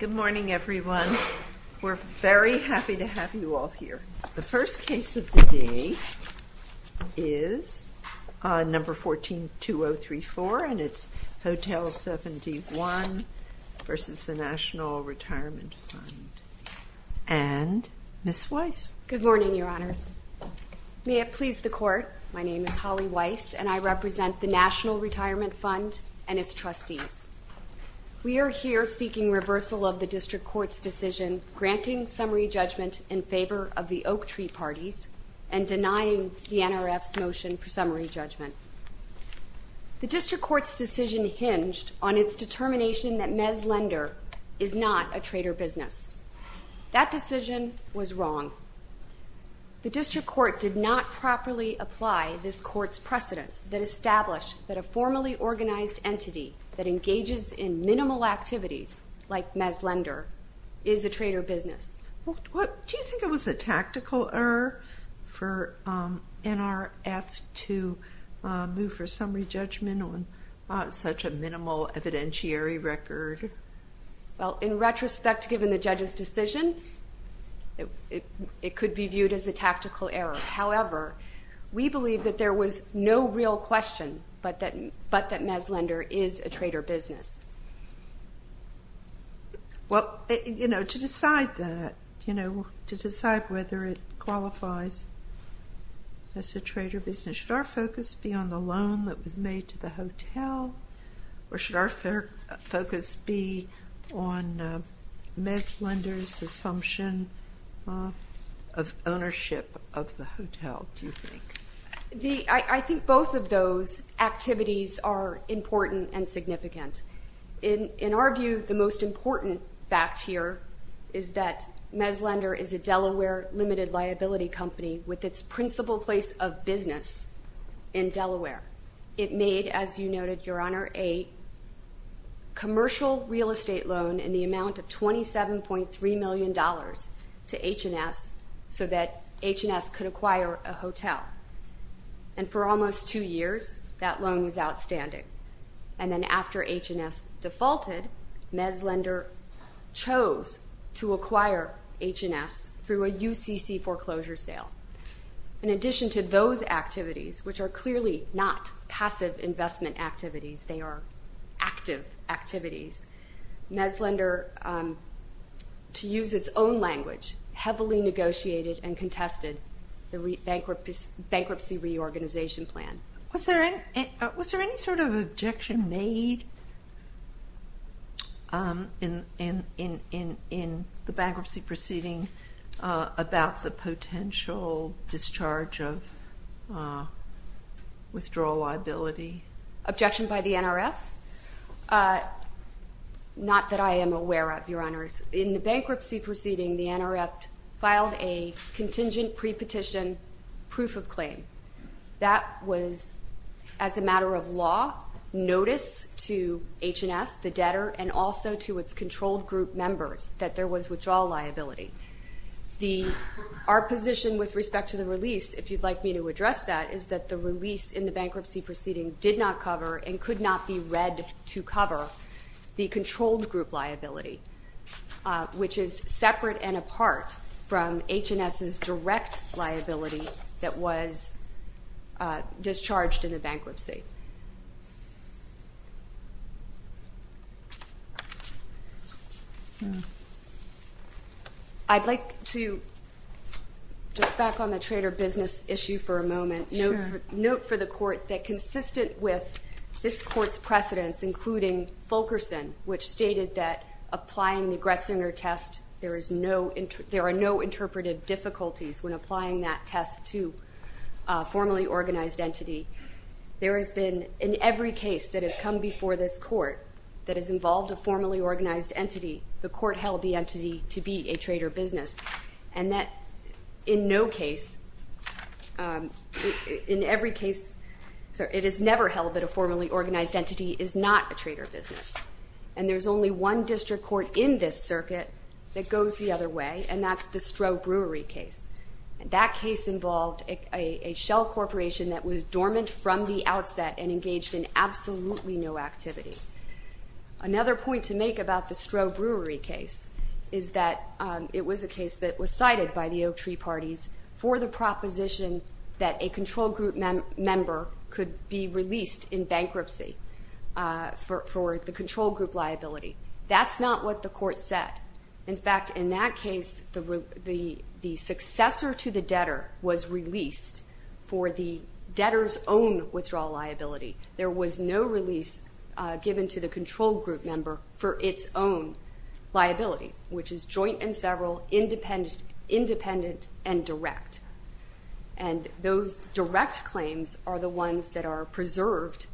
Good morning, everyone. We're very happy to have you all here. The first case of the day is No. 14-2034, and it's Hotel 71 v. National Retirement Fund. And Ms. Weiss. Good morning, Your Honors. May it please the Court, my name is Holly Weiss, and I represent the National Retirement Fund and its lawyers seeking reversal of the District Court's decision granting summary judgment in favor of the Oak Tree Parties and denying the NRF's motion for summary judgment. The District Court's decision hinged on its determination that Mezz Lender is not a trader business. That decision was wrong. The District Court did not properly apply this Court's precedence that established that a formally organized entity that engages in minimal activities like Mezz Lender is a trader business. Do you think it was a tactical error for NRF to move for summary judgment on such a minimal evidentiary record? In retrospect, given the judge's decision, it could be viewed as a tactical error. However, we believe that there was no real question but that Mezz Lender is a trader business. Well, you know, to decide that, you know, to decide whether it qualifies as a trader business, should our focus be on the loan that was made to the hotel, or should our focus be on Mezz Lender's assumption of ownership of the hotel, do you think? I think both of those activities are important and significant. In our view, the most important fact here is that Mezz Lender is a Delaware limited liability company with its principal place of business in Delaware. It made, as you noted, Your Honor, a commercial real estate loan in the amount of $27.3 million to H&S so that H&S could acquire a hotel. And for almost two years, that loan was outstanding. And then after H&S defaulted, Mezz Lender chose to acquire H&S through a UCC foreclosure sale. In addition to those activities, which are clearly not passive investment activities, they are active activities, Mezz Lender, to use its own language, heavily negotiated and contested the bankruptcy reorganization plan. Was there any sort of objection made in the bankruptcy proceeding about the potential discharge of withdrawal liability? Objection by the NRF? Not that I am aware of, Your Honor. In the bankruptcy proceeding, the NRF filed a contingent pre-petition proof of claim. That was, as a matter of law, notice to H&S, the debtor, and also to its controlled group members that there was withdrawal liability. Our position with respect to the release, if you'd like me to address that, is that the release in the bankruptcy proceeding did not cover and could not be read to cover the controlled group liability, which is separate and apart from H&S's direct liability that was discharged in the bankruptcy. I'd like to, just back on the trader business issue for a moment, note for the Court that consistent with this Court's precedence, including Fulkerson, which stated that applying the Gretzinger test, there are no interpreted difficulties when applying that test to a formally organized entity. There has been, in every case that has come before this Court that has involved a formally organized entity, the Court held the entity to be a trader business. And that in no case, in every case, it is never held that a formally organized entity is not a trader business. And there's only one district court in this circuit that goes the other way, and that's the Stroh Brewery case. That case involved a shell corporation that was dormant from the outset and engaged in absolutely no activity. Another point to make about the Stroh Brewery case is that it was a case that was cited by the Oak Tree Parties for the proposition that a controlled group member could be released in bankruptcy for the controlled group liability. That's not what the Court said. In fact, in that case, the successor to the debtor was released for the debtor's own withdrawal liability. There was no release given to the controlled group member for its own liability, which is joint and several, independent and direct. And those direct claims are the ones that are preserved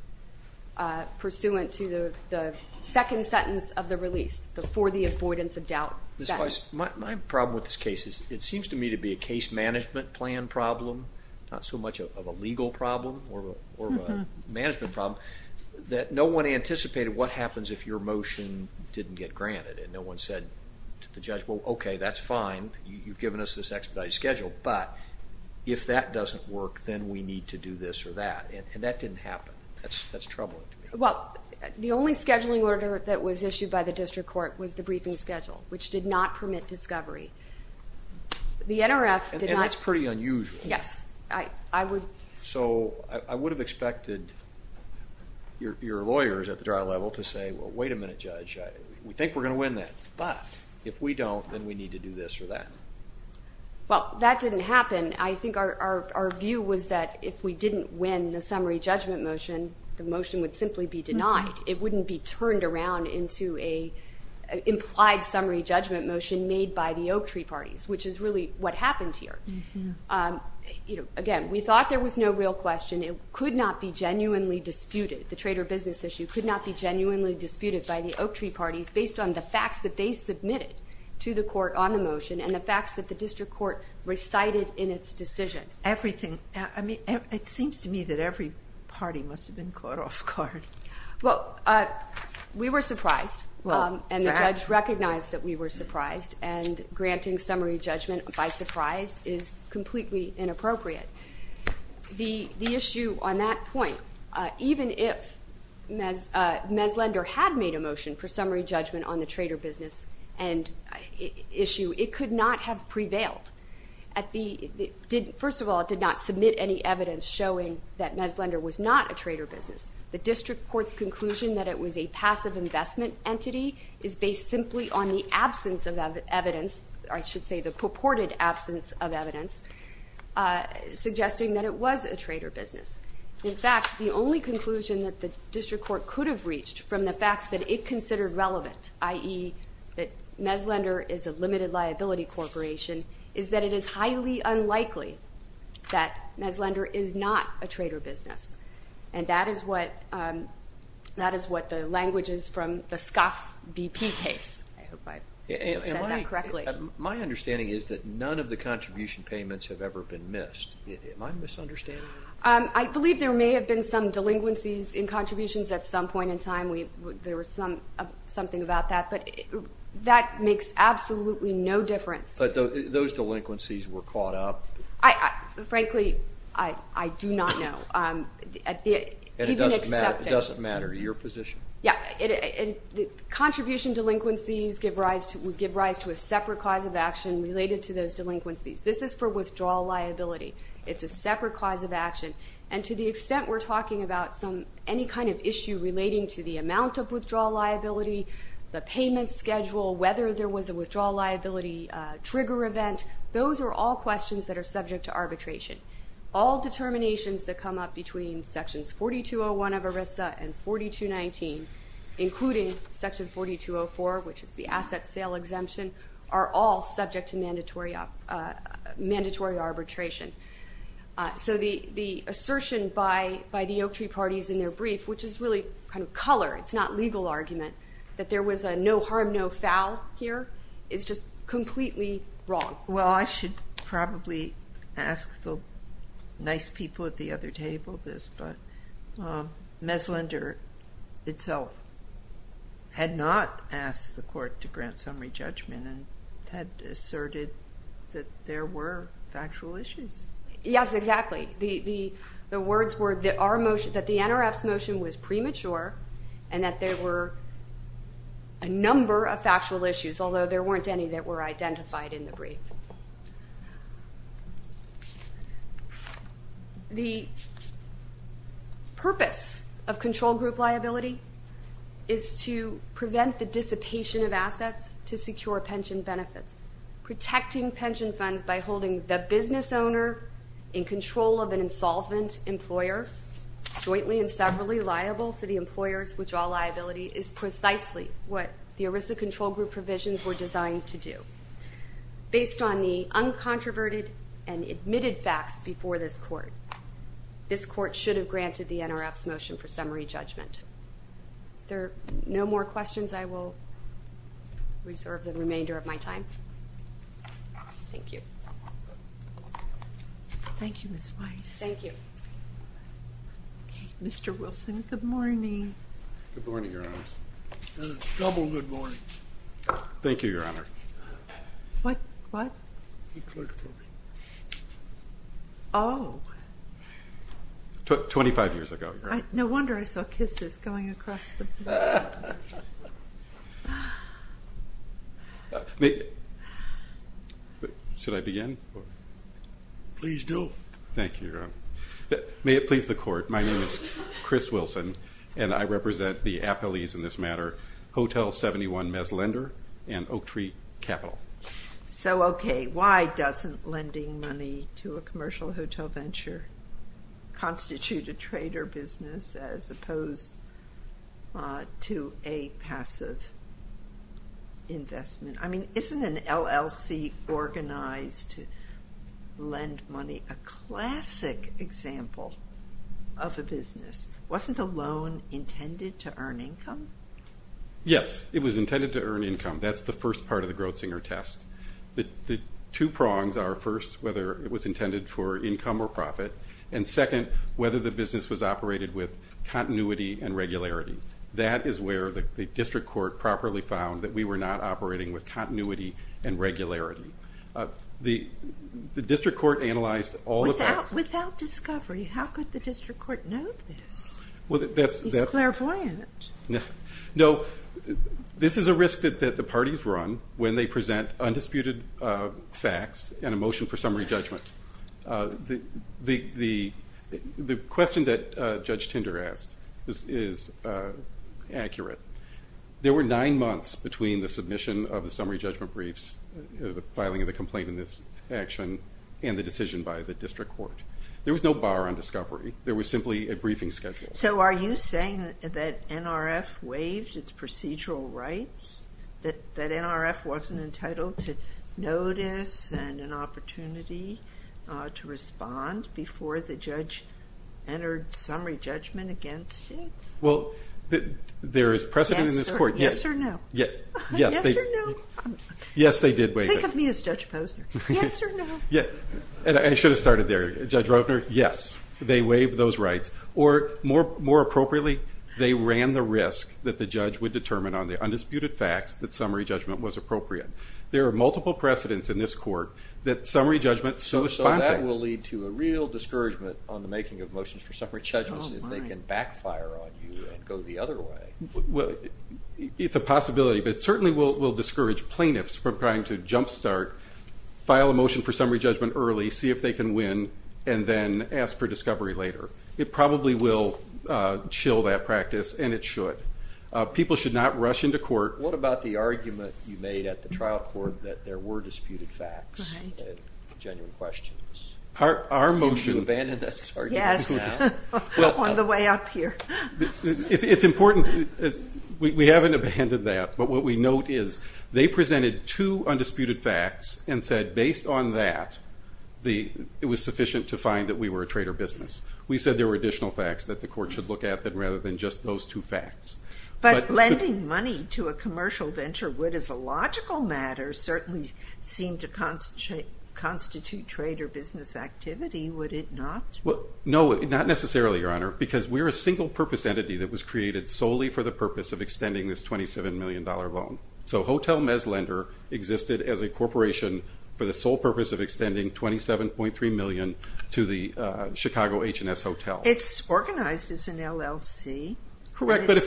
pursuant to the second sentence of the release, the For the Avoidance of Doubt sentence. Ms. Weiss, my problem with this case is it seems to me to be a case management plan problem, not so much of a legal problem or a management problem, that no one anticipated what happens if your motion didn't get granted. No one said to the judge, well, okay, that's fine. You've given us this expedited schedule, but if that doesn't work, then we need to do this or that, and that didn't happen. That's troubling to me. Well, the only scheduling order that was issued by the District Court was the briefing schedule, which did not permit discovery. The NRF did not – And that's pretty unusual. Yes. So I would have expected your lawyers at the trial level to say, well, wait a minute, Judge, we think we're going to win that, but if we don't, then we need to do this or that. Well, that didn't happen. I think our view was that if we didn't win the summary judgment motion, the motion would simply be denied. It wouldn't be turned around into an implied summary judgment motion made by the Oak Tree Parties, which is really what happened here. Again, we thought there was no real question. It could not be genuinely disputed. The trader business issue could not be genuinely disputed by the Oak Tree Parties based on the facts that they submitted to the court on the motion and the facts that the District Court recited in its decision. Everything. I mean, it seems to me that every party must have been caught off guard. Well, we were surprised, and the judge recognized that we were surprised, and granting summary judgment by surprise is completely inappropriate. The issue on that point, even if Mezlender had made a motion for summary judgment on the trader business issue, it could not have prevailed. First of all, it did not submit any evidence showing that Mezlender was not a trader business. The District Court's conclusion that it was a passive investment entity is based simply on the absence of evidence, or I should say the purported absence of evidence, suggesting that it was a trader business. In fact, the only conclusion that the District Court could have reached from the facts that it considered relevant, i.e., that Mezlender is a limited liability corporation, is that it is highly unlikely that Mezlender is not a trader business. And that is what the language is from the SCOF BP case. I hope I said that correctly. My understanding is that none of the contribution payments have ever been missed. Am I misunderstanding you? I believe there may have been some delinquencies in contributions at some point in time. There was something about that. But that makes absolutely no difference. But those delinquencies were caught up? Frankly, I do not know. And it doesn't matter your position? Contribution delinquencies give rise to a separate cause of action related to those delinquencies. This is for withdrawal liability. It's a separate cause of action. And to the extent we're talking about any kind of issue relating to the amount of withdrawal liability, the payment schedule, whether there was a withdrawal liability trigger event, those are all questions that are subject to arbitration. All determinations that come up between Sections 4201 of ERISA and 4219, including Section 4204, which is the asset sale exemption, are all subject to mandatory arbitration. So the assertion by the Oaktree parties in their brief, which is really kind of color, it's not legal argument, that there was a no harm, no foul here, is just completely wrong. Well, I should probably ask the nice people at the other table this, but Meslinder itself had not asked the Court to grant summary judgment and had asserted that there were factual issues. Yes, exactly. The words were that the NRF's motion was premature and that there were a number of issues. The purpose of control group liability is to prevent the dissipation of assets to secure pension benefits. Protecting pension funds by holding the business owner in control of an insolvent employer jointly and separately liable for the employer's withdrawal liability is precisely what the ERISA control group provisions were designed to do. Based on the uncontroverted and admitted facts before this Court, this Court should have granted the NRF's motion for summary judgment. If there are no more questions, I will reserve the remainder of my time. Thank you. Thank you, Ms. Weiss. Thank you. Okay, Mr. Wilson, good morning. Good morning, Your Honors. A double good morning. Thank you, Your Honor. What? What? The clerk told me. Oh. Twenty-five years ago, Your Honor. No wonder I saw kisses going across the board. Should I begin? Please do. Thank you, Your Honor. May it please the Court, my name is Chris Wilson and I represent the Oak Tree Capital. So, okay, why doesn't lending money to a commercial hotel venture constitute a trader business as opposed to a passive investment? I mean, isn't an LLC organized to lend money a classic example of a business? Wasn't the loan intended to earn income? Yes. It was intended to earn income. That's the first part of the Grossinger test. The two prongs are, first, whether it was intended for income or profit, and second, whether the business was operated with continuity and regularity. That is where the district court properly found that we were not operating with continuity and regularity. The district court analyzed all the facts. Without discovery, how could the district court know this? He's clairvoyant. No, this is a risk that the parties run when they present undisputed facts and a motion for summary judgment. The question that Judge Tinder asked is accurate. There were nine months between the submission of the summary judgment briefs, the filing of the complaint in this action, and the decision by the district court. There was no bar on discovery. There was simply a briefing schedule. So are you saying that NRF waived its procedural rights, that NRF wasn't entitled to notice and an opportunity to respond before the judge entered summary judgment against it? Well, there is precedent in this court. Yes or no? Yes or no? Yes, they did waive it. Think of me as Judge Posner. Yes or no? I should have started there. Judge Rogner, yes, they waived those rights. Or more appropriately, they ran the risk that the judge would determine on the undisputed facts that summary judgment was appropriate. There are multiple precedents in this court that summary judgment so is contact. So that will lead to a real discouragement on the making of motions for summary judgments if they can backfire on you and go the other way. Well, it's a possibility, but it certainly will discourage plaintiffs from trying to jump start, file a motion for summary judgment early, see if they can win, and then ask for discovery later. It probably will chill that practice, and it should. People should not rush into court. What about the argument you made at the trial court that there were disputed facts and genuine questions? Are you abandoning that argument now? Yes, on the way up here. It's important. We haven't abandoned that. But what we note is they presented two undisputed facts and said, based on that, it was sufficient to find that we were a traitor business. We said there were additional facts that the court should look at rather than just those two facts. But lending money to a commercial venture would, as a logical matter, certainly seem to constitute traitor business activity, would it not? No, not necessarily, Your Honor, because we're a single-purpose entity that was created solely for the purpose of extending this $27 million loan. So Hotel Mez Lender existed as a corporation for the sole purpose of extending $27.3 million to the Chicago H&S Hotel. It's organized as an LLC. Correct, but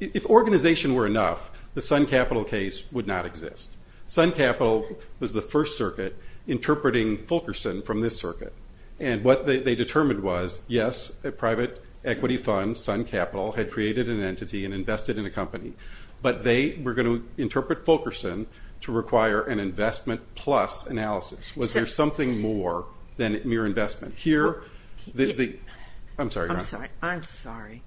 if organization were enough, the Sun Capital case would not exist. Sun Capital was the first circuit interpreting Fulkerson from this circuit. And what they determined was, yes, a private equity fund, Sun Capital, had created an entity and invested in a company, but they were going to interpret Fulkerson to require an investment-plus analysis. Was there something more than mere investment? I'm sorry, Your Honor. I'm sorry.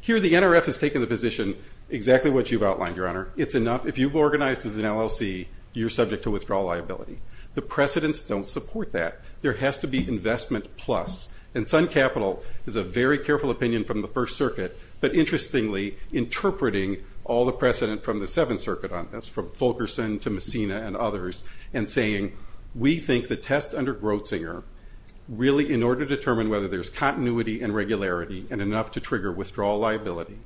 Here the NRF has taken the position exactly what you've outlined, Your Honor. It's enough. If you've organized as an LLC, you're subject to withdrawal liability. The precedents don't support that. There has to be investment-plus. And Sun Capital is a very careful opinion from the first circuit, but interestingly interpreting all the precedent from the seventh circuit on this, from Fulkerson to Messina and others, and saying we think the test under Grotzinger, really in order to determine whether there's continuity and regularity and enough to trigger withdrawal liability,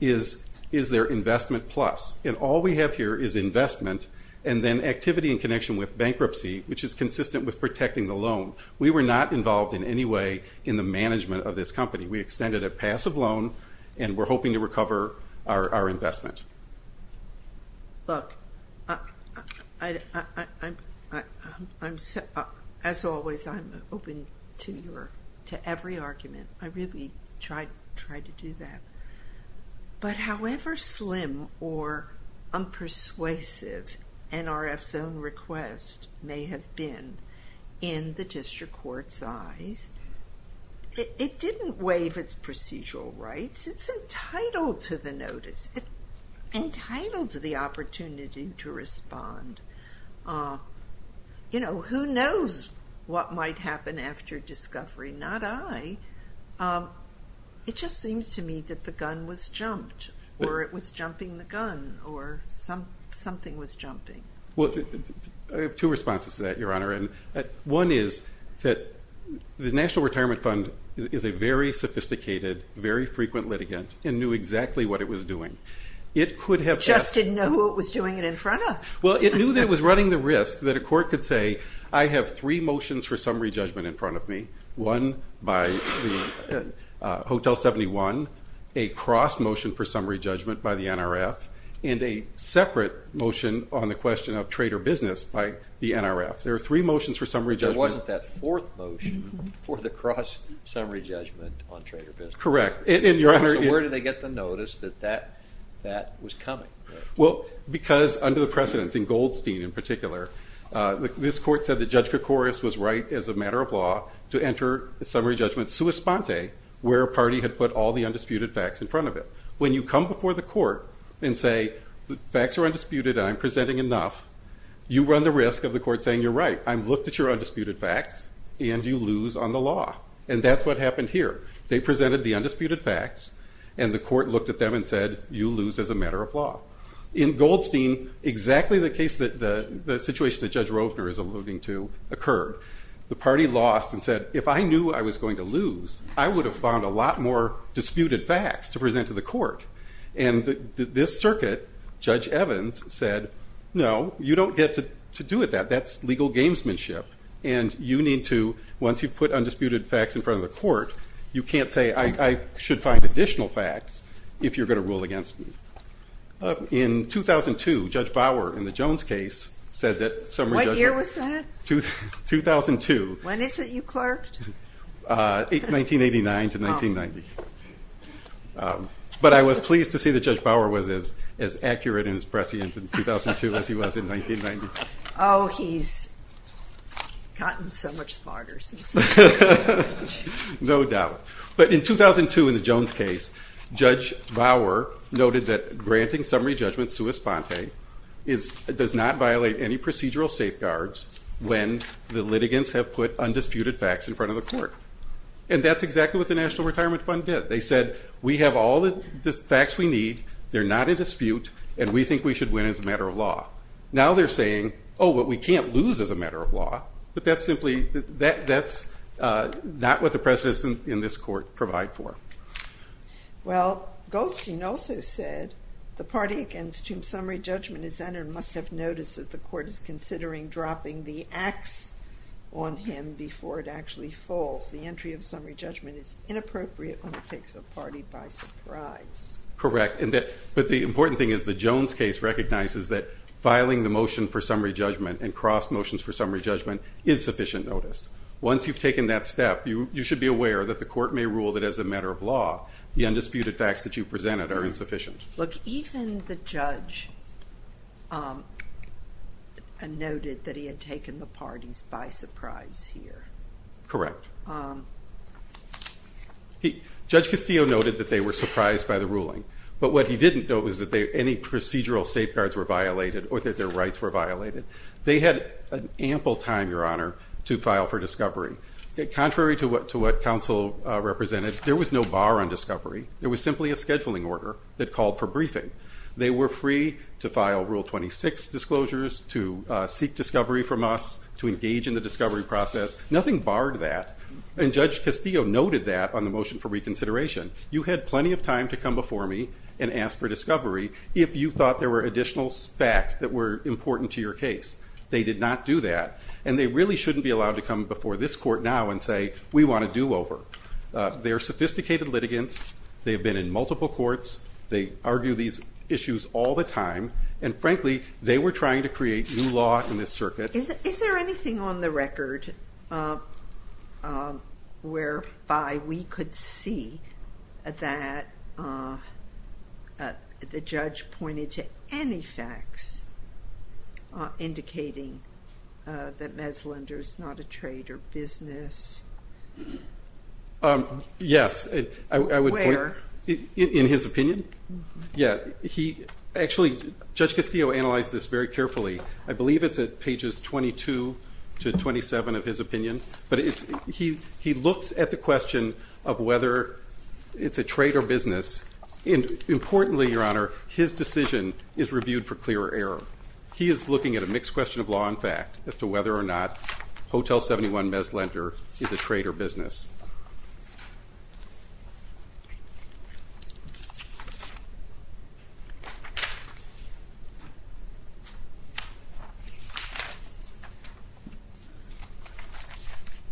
is there investment-plus. And all we have here is investment and then activity in connection with bankruptcy, which is consistent with protecting the loan. We were not involved in any way in the management of this company. We extended a passive loan, and we're hoping to recover our investment. Look, as always, I'm open to every argument. I really try to do that. But however slim or unpersuasive NRF's own request may have been in the district court's eyes, it didn't waive its procedural rights. It's entitled to the notice. It's entitled to the opportunity to respond. You know, who knows what might happen after discovery? Not I. It just seems to me that the gun was jumped, or it was jumping the gun, or something was jumping. Well, I have two responses to that, Your Honor. One is that the National Retirement Fund is a very sophisticated, very frequent litigant, and knew exactly what it was doing. It could have asked. Just didn't know who it was doing it in front of. Well, it knew that it was running the risk that a court could say, I have three motions for summary judgment in front of me, one by Hotel 71, a cross motion for summary judgment by the NRF, and a separate motion on the question of trade or business by the NRF. There are three motions for summary judgment. But there wasn't that fourth motion for the cross summary judgment on trade or business. Correct. So where did they get the notice that that was coming? Well, because under the precedents, in Goldstein in particular, this court said that Judge Koukouris was right as a matter of law to enter a summary judgment sua sponte, where a party had put all the undisputed facts in front of it. When you come before the court and say the facts are undisputed and I'm presenting enough, you run the risk of the court saying, you're right, I've looked at your undisputed facts and you lose on the law. And that's what happened here. They presented the undisputed facts and the court looked at them and said, you lose as a matter of law. In Goldstein, exactly the situation that Judge Rovner is alluding to occurred. The party lost and said, if I knew I was going to lose, I would have found a lot more disputed facts to present to the court. And this circuit, Judge Evans said, no, you don't get to do that. That's legal gamesmanship. And you need to, once you've put undisputed facts in front of the court, you can't say I should find additional facts if you're going to rule against me. In 2002, Judge Bauer in the Jones case said that summary judgment. What year was that? 2002. When is it you clerked? 1989 to 1990. But I was pleased to see that Judge Bauer was as accurate in his prescience in 2002 as he was in 1990. Oh, he's gotten so much smarter since then. No doubt. But in 2002 in the Jones case, Judge Bauer noted that granting summary judgment sua sponte does not violate any procedural safeguards when the litigants have put undisputed facts in front of the court. And that's exactly what the National Retirement Fund did. They said, we have all the facts we need, they're not in dispute, and we think we should win as a matter of law. Now they're saying, oh, but we can't lose as a matter of law. But that's simply not what the precedents in this court provide for. Well, Goldstein also said the party against whom summary judgment is entered must have noticed that the court is considering dropping the ax on him before it actually falls. The entry of summary judgment is inappropriate when it takes a party by surprise. Correct. But the important thing is the Jones case recognizes that filing the motion for summary judgment and cross motions for summary judgment is sufficient notice. Once you've taken that step, you should be aware that the court may rule that as a matter of law the undisputed facts that you presented are insufficient. Look, even the judge noted that he had taken the parties by surprise here. Correct. Judge Castillo noted that they were surprised by the ruling. But what he didn't note was that any procedural safeguards were violated or that their rights were violated. They had ample time, Your Honor, to file for discovery. Contrary to what counsel represented, there was no bar on discovery. There was simply a scheduling order that called for briefing. They were free to file Rule 26 disclosures, to seek discovery from us, to engage in the discovery process. Nothing barred that. And Judge Castillo noted that on the motion for reconsideration. You had plenty of time to come before me and ask for discovery if you thought there were additional facts that were important to your case. They did not do that. And they really shouldn't be allowed to come before this court now and say, we want a do-over. They are sophisticated litigants. They have been in multiple courts. They argue these issues all the time. And frankly, they were trying to create new law in this circuit. Is there anything on the record whereby we could see that the judge pointed to any facts indicating that Meslinder is not a traitor business? Yes. In his opinion? Yeah. Actually, Judge Castillo analyzed this very carefully. I believe it's at pages 22 to 27 of his opinion. But he looks at the question of whether it's a traitor business. Importantly, Your Honor, his decision is reviewed for clear error. He is looking at a mixed question of law and fact as to whether or not Hotel 71 Meslinder is a traitor business.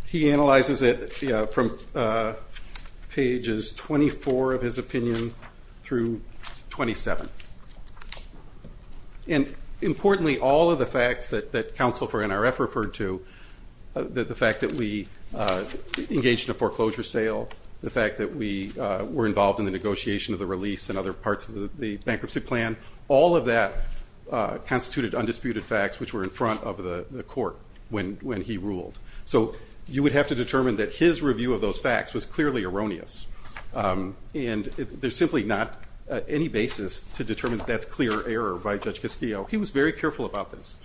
He analyzes it from pages 24 of his opinion through 27. And importantly, all of the facts that counsel for NRF referred to, the fact that we engaged in a foreclosure sale, the fact that we were involved in the negotiation of the release and other parts of the bankruptcy plan, all of that constituted undisputed facts which were in front of the court when he ruled. So you would have to determine that his review of those facts was clearly erroneous. And there's simply not any basis to determine that that's clear error by Judge Castillo. He was very careful about this.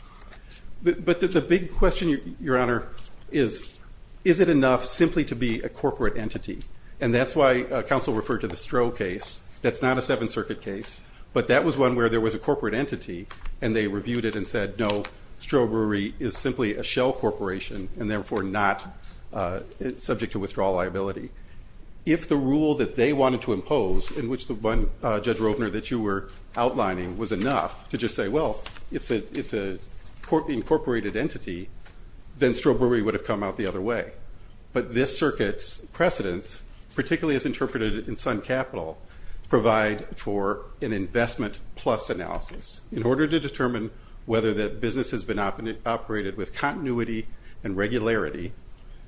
But the big question, Your Honor, is, is it enough simply to be a corporate entity? And that's why counsel referred to the Stroh case. That's not a Seventh Circuit case. But that was one where there was a corporate entity, and they reviewed it and said, no, Stroh Brewery is simply a shell corporation and therefore not subject to withdrawal liability. If the rule that they wanted to impose, in which the one, Judge Rovner, that you were outlining was enough to just say, well, it's an incorporated entity, then Stroh Brewery would have come out the other way. But this circuit's precedents, particularly as interpreted in Sun Capital, provide for an investment plus analysis. In order to determine whether the business has been operated with continuity and regularity,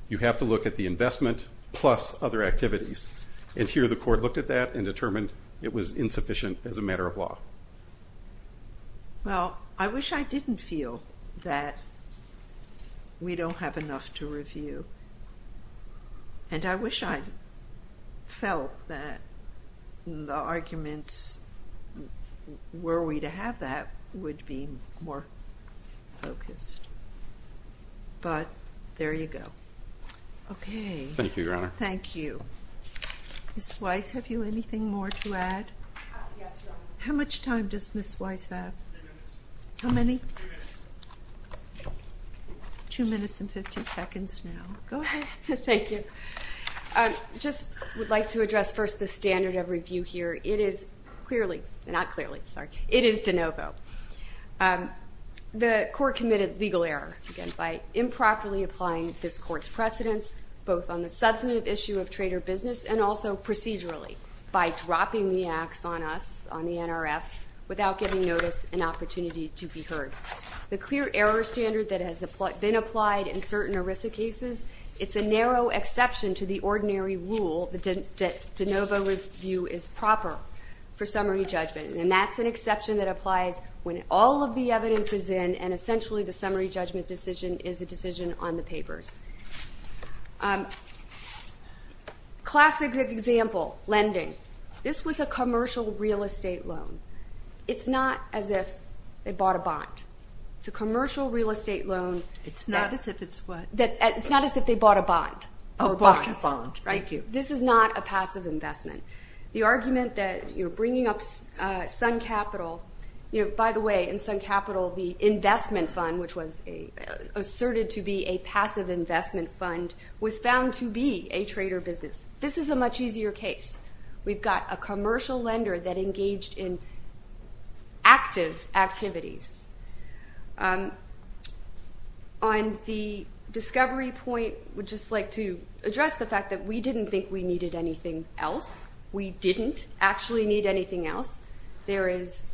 you have to look at the investment plus other activities. And here the court looked at that and determined it was insufficient as a matter of law. Well, I wish I didn't feel that we don't have enough to review. And I wish I felt that the arguments were we to have that would be more focused. But there you go. Okay. Thank you, Your Honor. Thank you. Ms. Weiss, have you anything more to add? Yes, Your Honor. How much time does Ms. Weiss have? Ten minutes. How many? Two minutes. Two minutes and 50 seconds now. Go ahead. Thank you. I just would like to address first the standard of review here. It is clearly, not clearly, sorry, it is de novo. The court committed legal error, again, by improperly applying this court's precedents, both on the substantive issue of trade or business and also procedurally by dropping the ax on us, on the NRF, without giving notice and opportunity to be heard. The clear error standard that has been applied in certain ERISA cases, it's a narrow exception to the ordinary rule that de novo review is proper for summary judgment. And that's an exception that applies when all of the evidence is in and essentially the summary judgment decision is a decision on the papers. Classic example, lending. This was a commercial real estate loan. It's not as if they bought a bond. It's a commercial real estate loan. It's not as if it's what? It's not as if they bought a bond. Oh, bought a bond. Thank you. This is not a passive investment. The argument that you're bringing up Sun Capital, you know, by the way, in Sun Capital the investment fund, which was asserted to be a passive investment fund, was found to be a trade or business. This is a much easier case. We've got a commercial lender that engaged in active activities. On the discovery point, I would just like to address the fact that we didn't think we needed anything else. We didn't actually need anything else. There is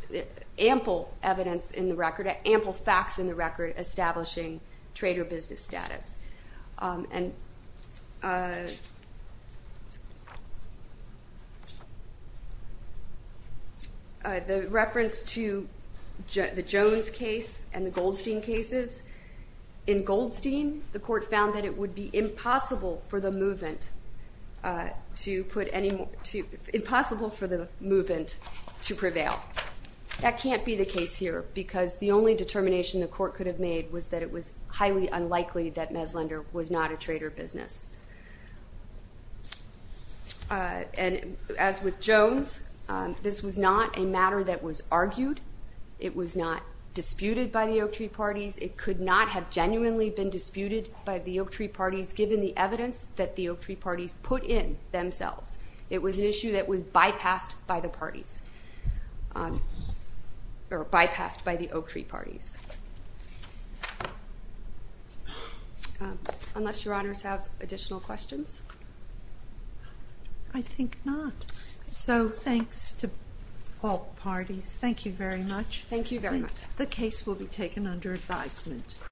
ample evidence in the record, ample facts in the record, establishing trade or business status. And the reference to the Jones case and the Goldstein cases, in Goldstein the court found that it would be impossible for the movant to put any more, impossible for the movant to prevail. That can't be the case here because the only determination the court could have made was that it was highly unlikely that Meslinder was not a trade or business. And as with Jones, this was not a matter that was argued. It was not disputed by the Oaktree parties. It could not have genuinely been disputed by the Oaktree parties, given the evidence that the Oaktree parties put in themselves. It was an issue that was bypassed by the parties, or bypassed by the Oaktree parties. Unless your honors have additional questions? I think not. So thanks to all parties. Thank you very much. Thank you very much. The case will be taken under advisement.